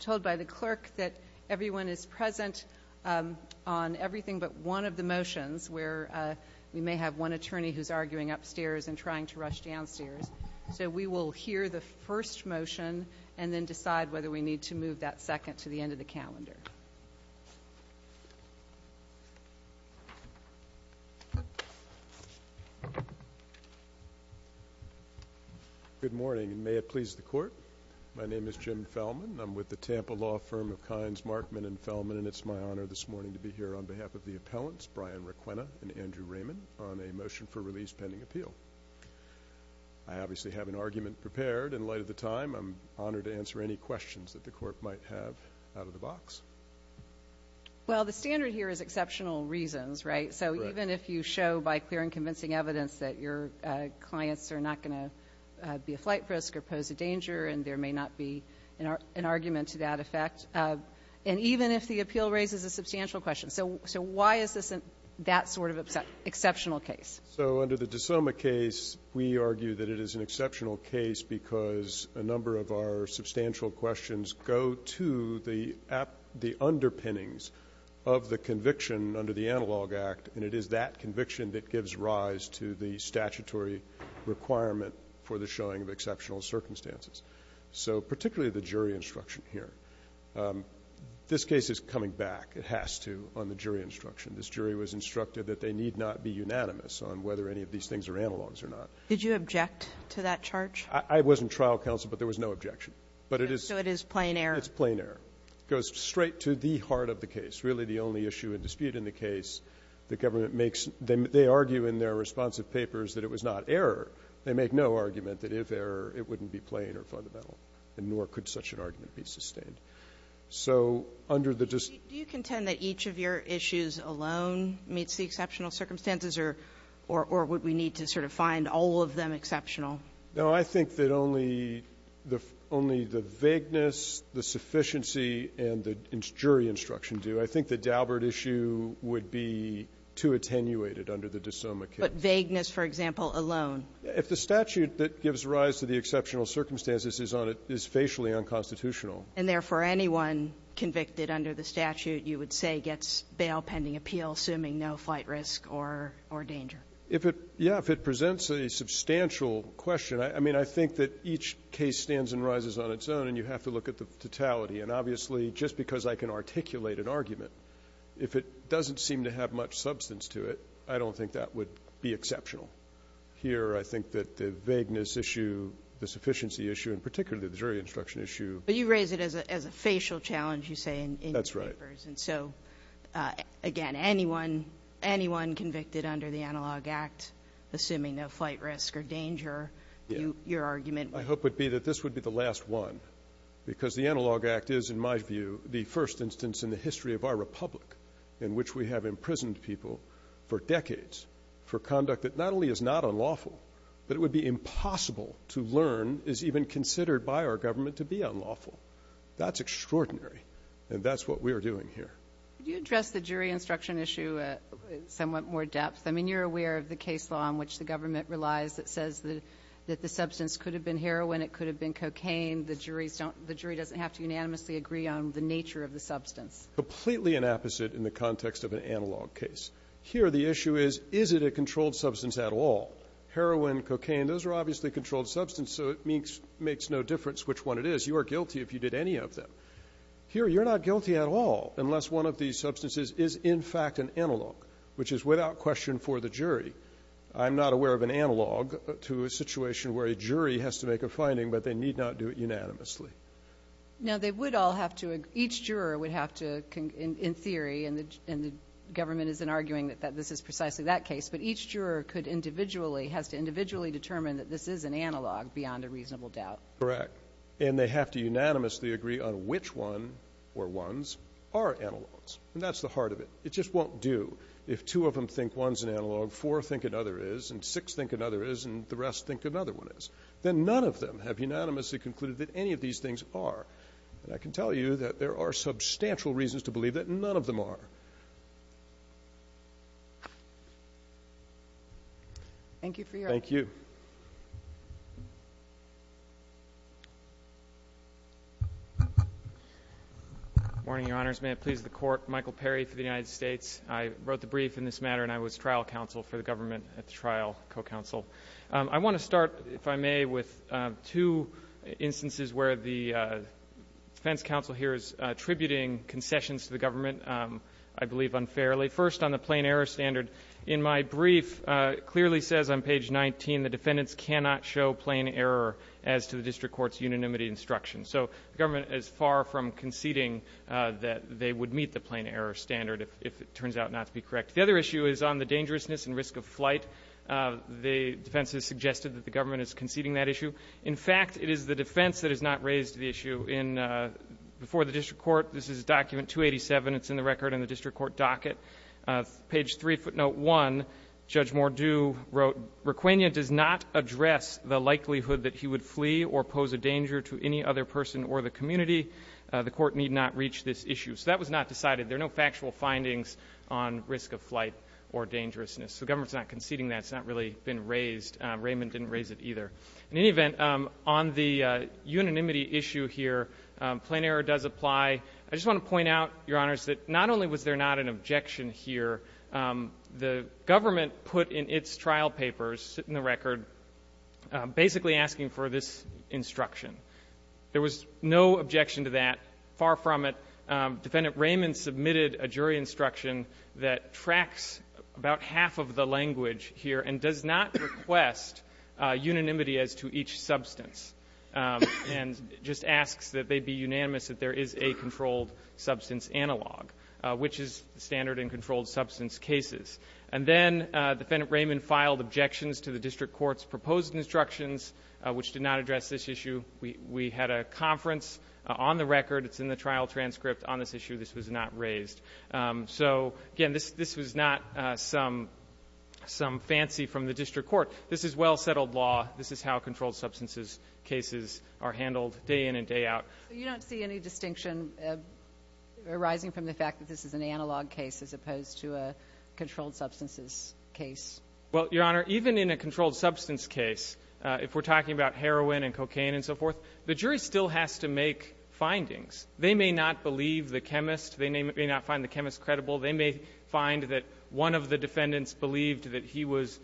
Told by the clerk that everyone is present on everything but one of the motions, where we may have one attorney who's arguing upstairs and trying to rush downstairs. So we will hear the first motion and then decide whether we need to move that second to the end of the calendar. Good morning, and may it please the court. My name is Jim Fellman. I'm with the Tampa law firm of Kynes, Markman & Fellman, and it's my honor this morning to be here on behalf of the appellants, Brian Requena and Andrew Raymond, on a motion for release pending appeal. I obviously have an argument prepared in light of the time. I'm honored to answer any questions that the Court might have out of the box. Well, the standard here is exceptional reasons, right? Correct. So even if you show by clear and convincing evidence that your clients are not going to be a flight risk or pose a danger and there may not be an argument to that effect, and even if the appeal raises a substantial question. So why is this that sort of exceptional case? So under the DeSoma case, we argue that it is an exceptional case because a number of our substantial questions go to the underpinnings of the conviction under the Analog Act, and it is that conviction that gives rise to the statutory requirement for the showing of exceptional circumstances. So particularly the jury instruction here. This case is coming back. It has to on the jury instruction. This jury was instructed that they need not be unanimous on whether any of these things are analogs or not. Did you object to that charge? I wasn't trial counsel, but there was no objection. But it is. So it is plain error. It's plain error. It goes straight to the heart of the case, really the only issue and dispute in the case the government makes. They argue in their responsive papers that it was not error. They make no argument that if error, it wouldn't be plain or fundamental, and nor could such an argument be sustained. So under the dis ---- Do you contend that each of your issues alone meets the exceptional circumstances or would we need to sort of find all of them exceptional? No. I think that only the vagueness, the sufficiency, and the jury instruction do. I think the Daubert issue would be too attenuated under the de Soma case. But vagueness, for example, alone? If the statute that gives rise to the exceptional circumstances is on it, is facially unconstitutional. And, therefore, anyone convicted under the statute, you would say, gets bail pending appeal, assuming no flight risk or danger. If it, yeah, if it presents a substantial question, I mean, I think that each case stands and rises on its own, and you have to look at the totality. And obviously, just because I can articulate an argument, if it doesn't seem to have much substance to it, I don't think that would be exceptional. Here, I think that the vagueness issue, the sufficiency issue, and particularly the jury instruction issue. But you raise it as a facial challenge, you say, in your papers. That's right. And so, again, anyone convicted under the Analog Act, assuming no flight risk or danger, your argument would be? I hope it would be that this would be the last one, because the Analog Act is, in my view, the first instance in the history of our republic in which we have imprisoned people for decades for conduct that not only is not unlawful, but it is even considered by our government to be unlawful. That's extraordinary. And that's what we are doing here. Do you address the jury instruction issue somewhat more depth? I mean, you're aware of the case law in which the government relies that says that the substance could have been heroin, it could have been cocaine. The jury doesn't have to unanimously agree on the nature of the substance. Completely an opposite in the context of an analog case. Here, the issue is, is it a controlled substance at all? Heroin, cocaine, those are obviously controlled substances, so it makes no difference which one it is. You are guilty if you did any of them. Here, you're not guilty at all unless one of these substances is, in fact, an analog, which is without question for the jury. I'm not aware of an analog to a situation where a jury has to make a finding, but they need not do it unanimously. Now, they would all have to agree. Each juror would have to, in theory, and the government isn't arguing that this is precisely that case, but each juror could individually determine that this is an analog beyond a reasonable doubt. Correct. And they have to unanimously agree on which one or ones are analogs. And that's the heart of it. It just won't do. If two of them think one's an analog, four think another is, and six think another is, and the rest think another one is, then none of them have unanimously concluded that any of these things are. And I can tell you that there are substantial reasons to believe that none of them are. Thank you for your attention. Thank you. Good morning, Your Honors. May it please the Court. Michael Perry for the United States. I wrote the brief in this matter, and I was trial counsel for the government at the trial, co-counsel. I want to start, if I may, with two instances where the defense counsel here is attributing concessions to the government, I believe unfairly. First, on the plain error standard. In my brief, it clearly says on page 19, the defendants cannot show plain error as to the district court's unanimity instruction. So the government is far from conceding that they would meet the plain error standard if it turns out not to be correct. The other issue is on the dangerousness and risk of flight. The defense has suggested that the government is conceding that issue. In fact, it is the defense that has not raised the issue in before the district court. This is document 287. It's in the record in the district court docket. Page 3, footnote 1, Judge Mordew wrote, Requena does not address the likelihood that he would flee or pose a danger to any other person or the community. The court need not reach this issue. So that was not decided. There are no factual findings on risk of flight or dangerousness. So the government is not conceding that. It's not really been raised. Raymond didn't raise it either. In any event, on the unanimity issue here, plain error does apply. I just want to point out, Your Honors, that not only was there not an objection here, the government put in its trial papers, in the record, basically asking for this instruction. There was no objection to that, far from it. Defendant Raymond submitted a jury instruction that tracks about half of the language here and does not request unanimity as to each substance and just asks that they be unanimous that there is a controlled substance analog, which is standard and controlled substance cases. And then Defendant Raymond filed objections to the district court's proposed instructions, which did not address this issue. We had a conference on the record. It's in the trial transcript on this issue. This was not raised. So, again, this was not some fancy from the district court. This is well-settled law. This is how controlled substances cases are handled day in and day out. But you don't see any distinction arising from the fact that this is an analog case as opposed to a controlled substances case? Well, Your Honor, even in a controlled substance case, if we're talking about heroin and cocaine and so forth, the jury still has to make findings. They may not believe the chemist. They may not find the chemist credible. They may find that one of the defendants believed that he was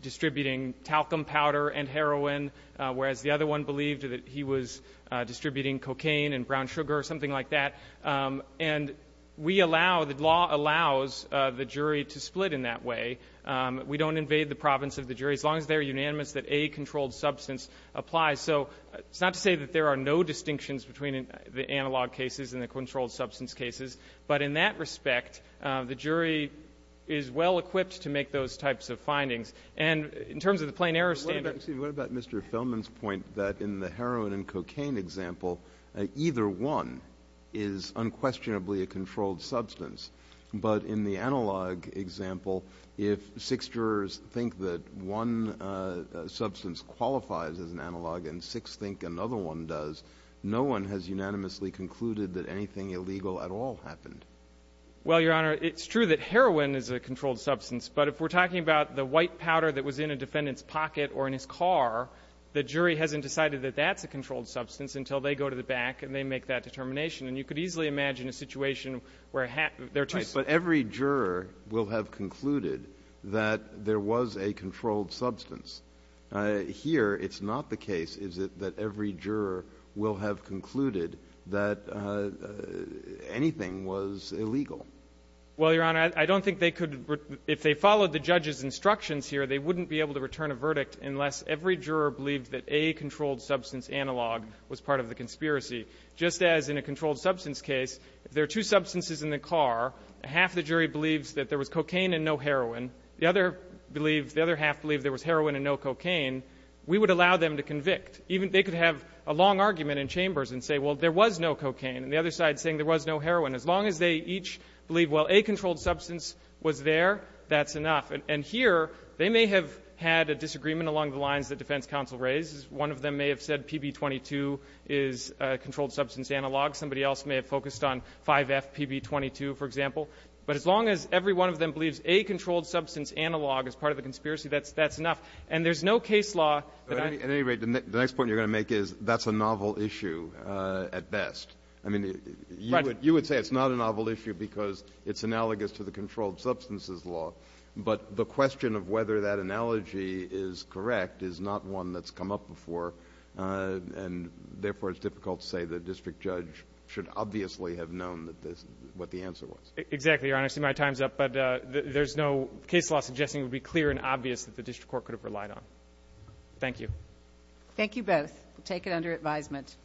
distributing talcum powder and heroin, whereas the other one believed that he was distributing cocaine and brown sugar or something like that. And we allow the law allows the jury to split in that way. We don't invade the province of the jury as long as they're unanimous that a controlled substance applies. So it's not to say that there are no distinctions between the analog cases and the controlled substance cases. But in that respect, the jury is well-equipped to make those types of findings. And in terms of the plain error standard ---- But what about, excuse me, what about Mr. Feldman's point that in the heroin and cocaine example, either one is unquestionably a controlled substance, but in the analog example, if six jurors think that one substance qualifies as an analog and six think another one does, no one has unanimously concluded that anything illegal at all happened. Well, Your Honor, it's true that heroin is a controlled substance. But if we're talking about the white powder that was in a defendant's pocket or in his car, the jury hasn't decided that that's a controlled substance until they go to the back and they make that determination. And you could easily imagine a situation where there are two ---- But every juror will have concluded that there was a controlled substance. Here, it's not the case, is it, that every juror will have concluded that anything was illegal. Well, Your Honor, I don't think they could ---- if they followed the judge's instructions here, they wouldn't be able to return a verdict unless every juror believed that a controlled substance analog was part of the conspiracy. Just as in a controlled substance case, there are two substances in the car. Half the jury believes that there was cocaine and no heroin. The other believes ---- the other half believes there was heroin and no cocaine. We would allow them to convict. Even ---- They could have a long argument in chambers and say, well, there was no cocaine. And the other side saying there was no heroin. As long as they each believe, well, a controlled substance was there, that's enough. And here, they may have had a disagreement along the lines that defense counsel raised. One of them may have said PB-22 is a controlled substance analog. Somebody else may have focused on 5F PB-22, for example. But as long as every one of them believes a controlled substance analog is part of the conspiracy, that's enough. And there's no case law that I ---- But at any rate, the next point you're going to make is that's a novel issue at best. I mean, you would say it's not a novel issue because it's analogous to the controlled substances law. But the question of whether that analogy is correct is not one that's come up before, and therefore, it's difficult to say the district judge should obviously have known that this ---- what the answer was. Exactly, Your Honor. I see my time's up. But there's no case law suggesting it would be clear and obvious that the district court could have relied on. Thank you. Thank you both. Take it under advisement.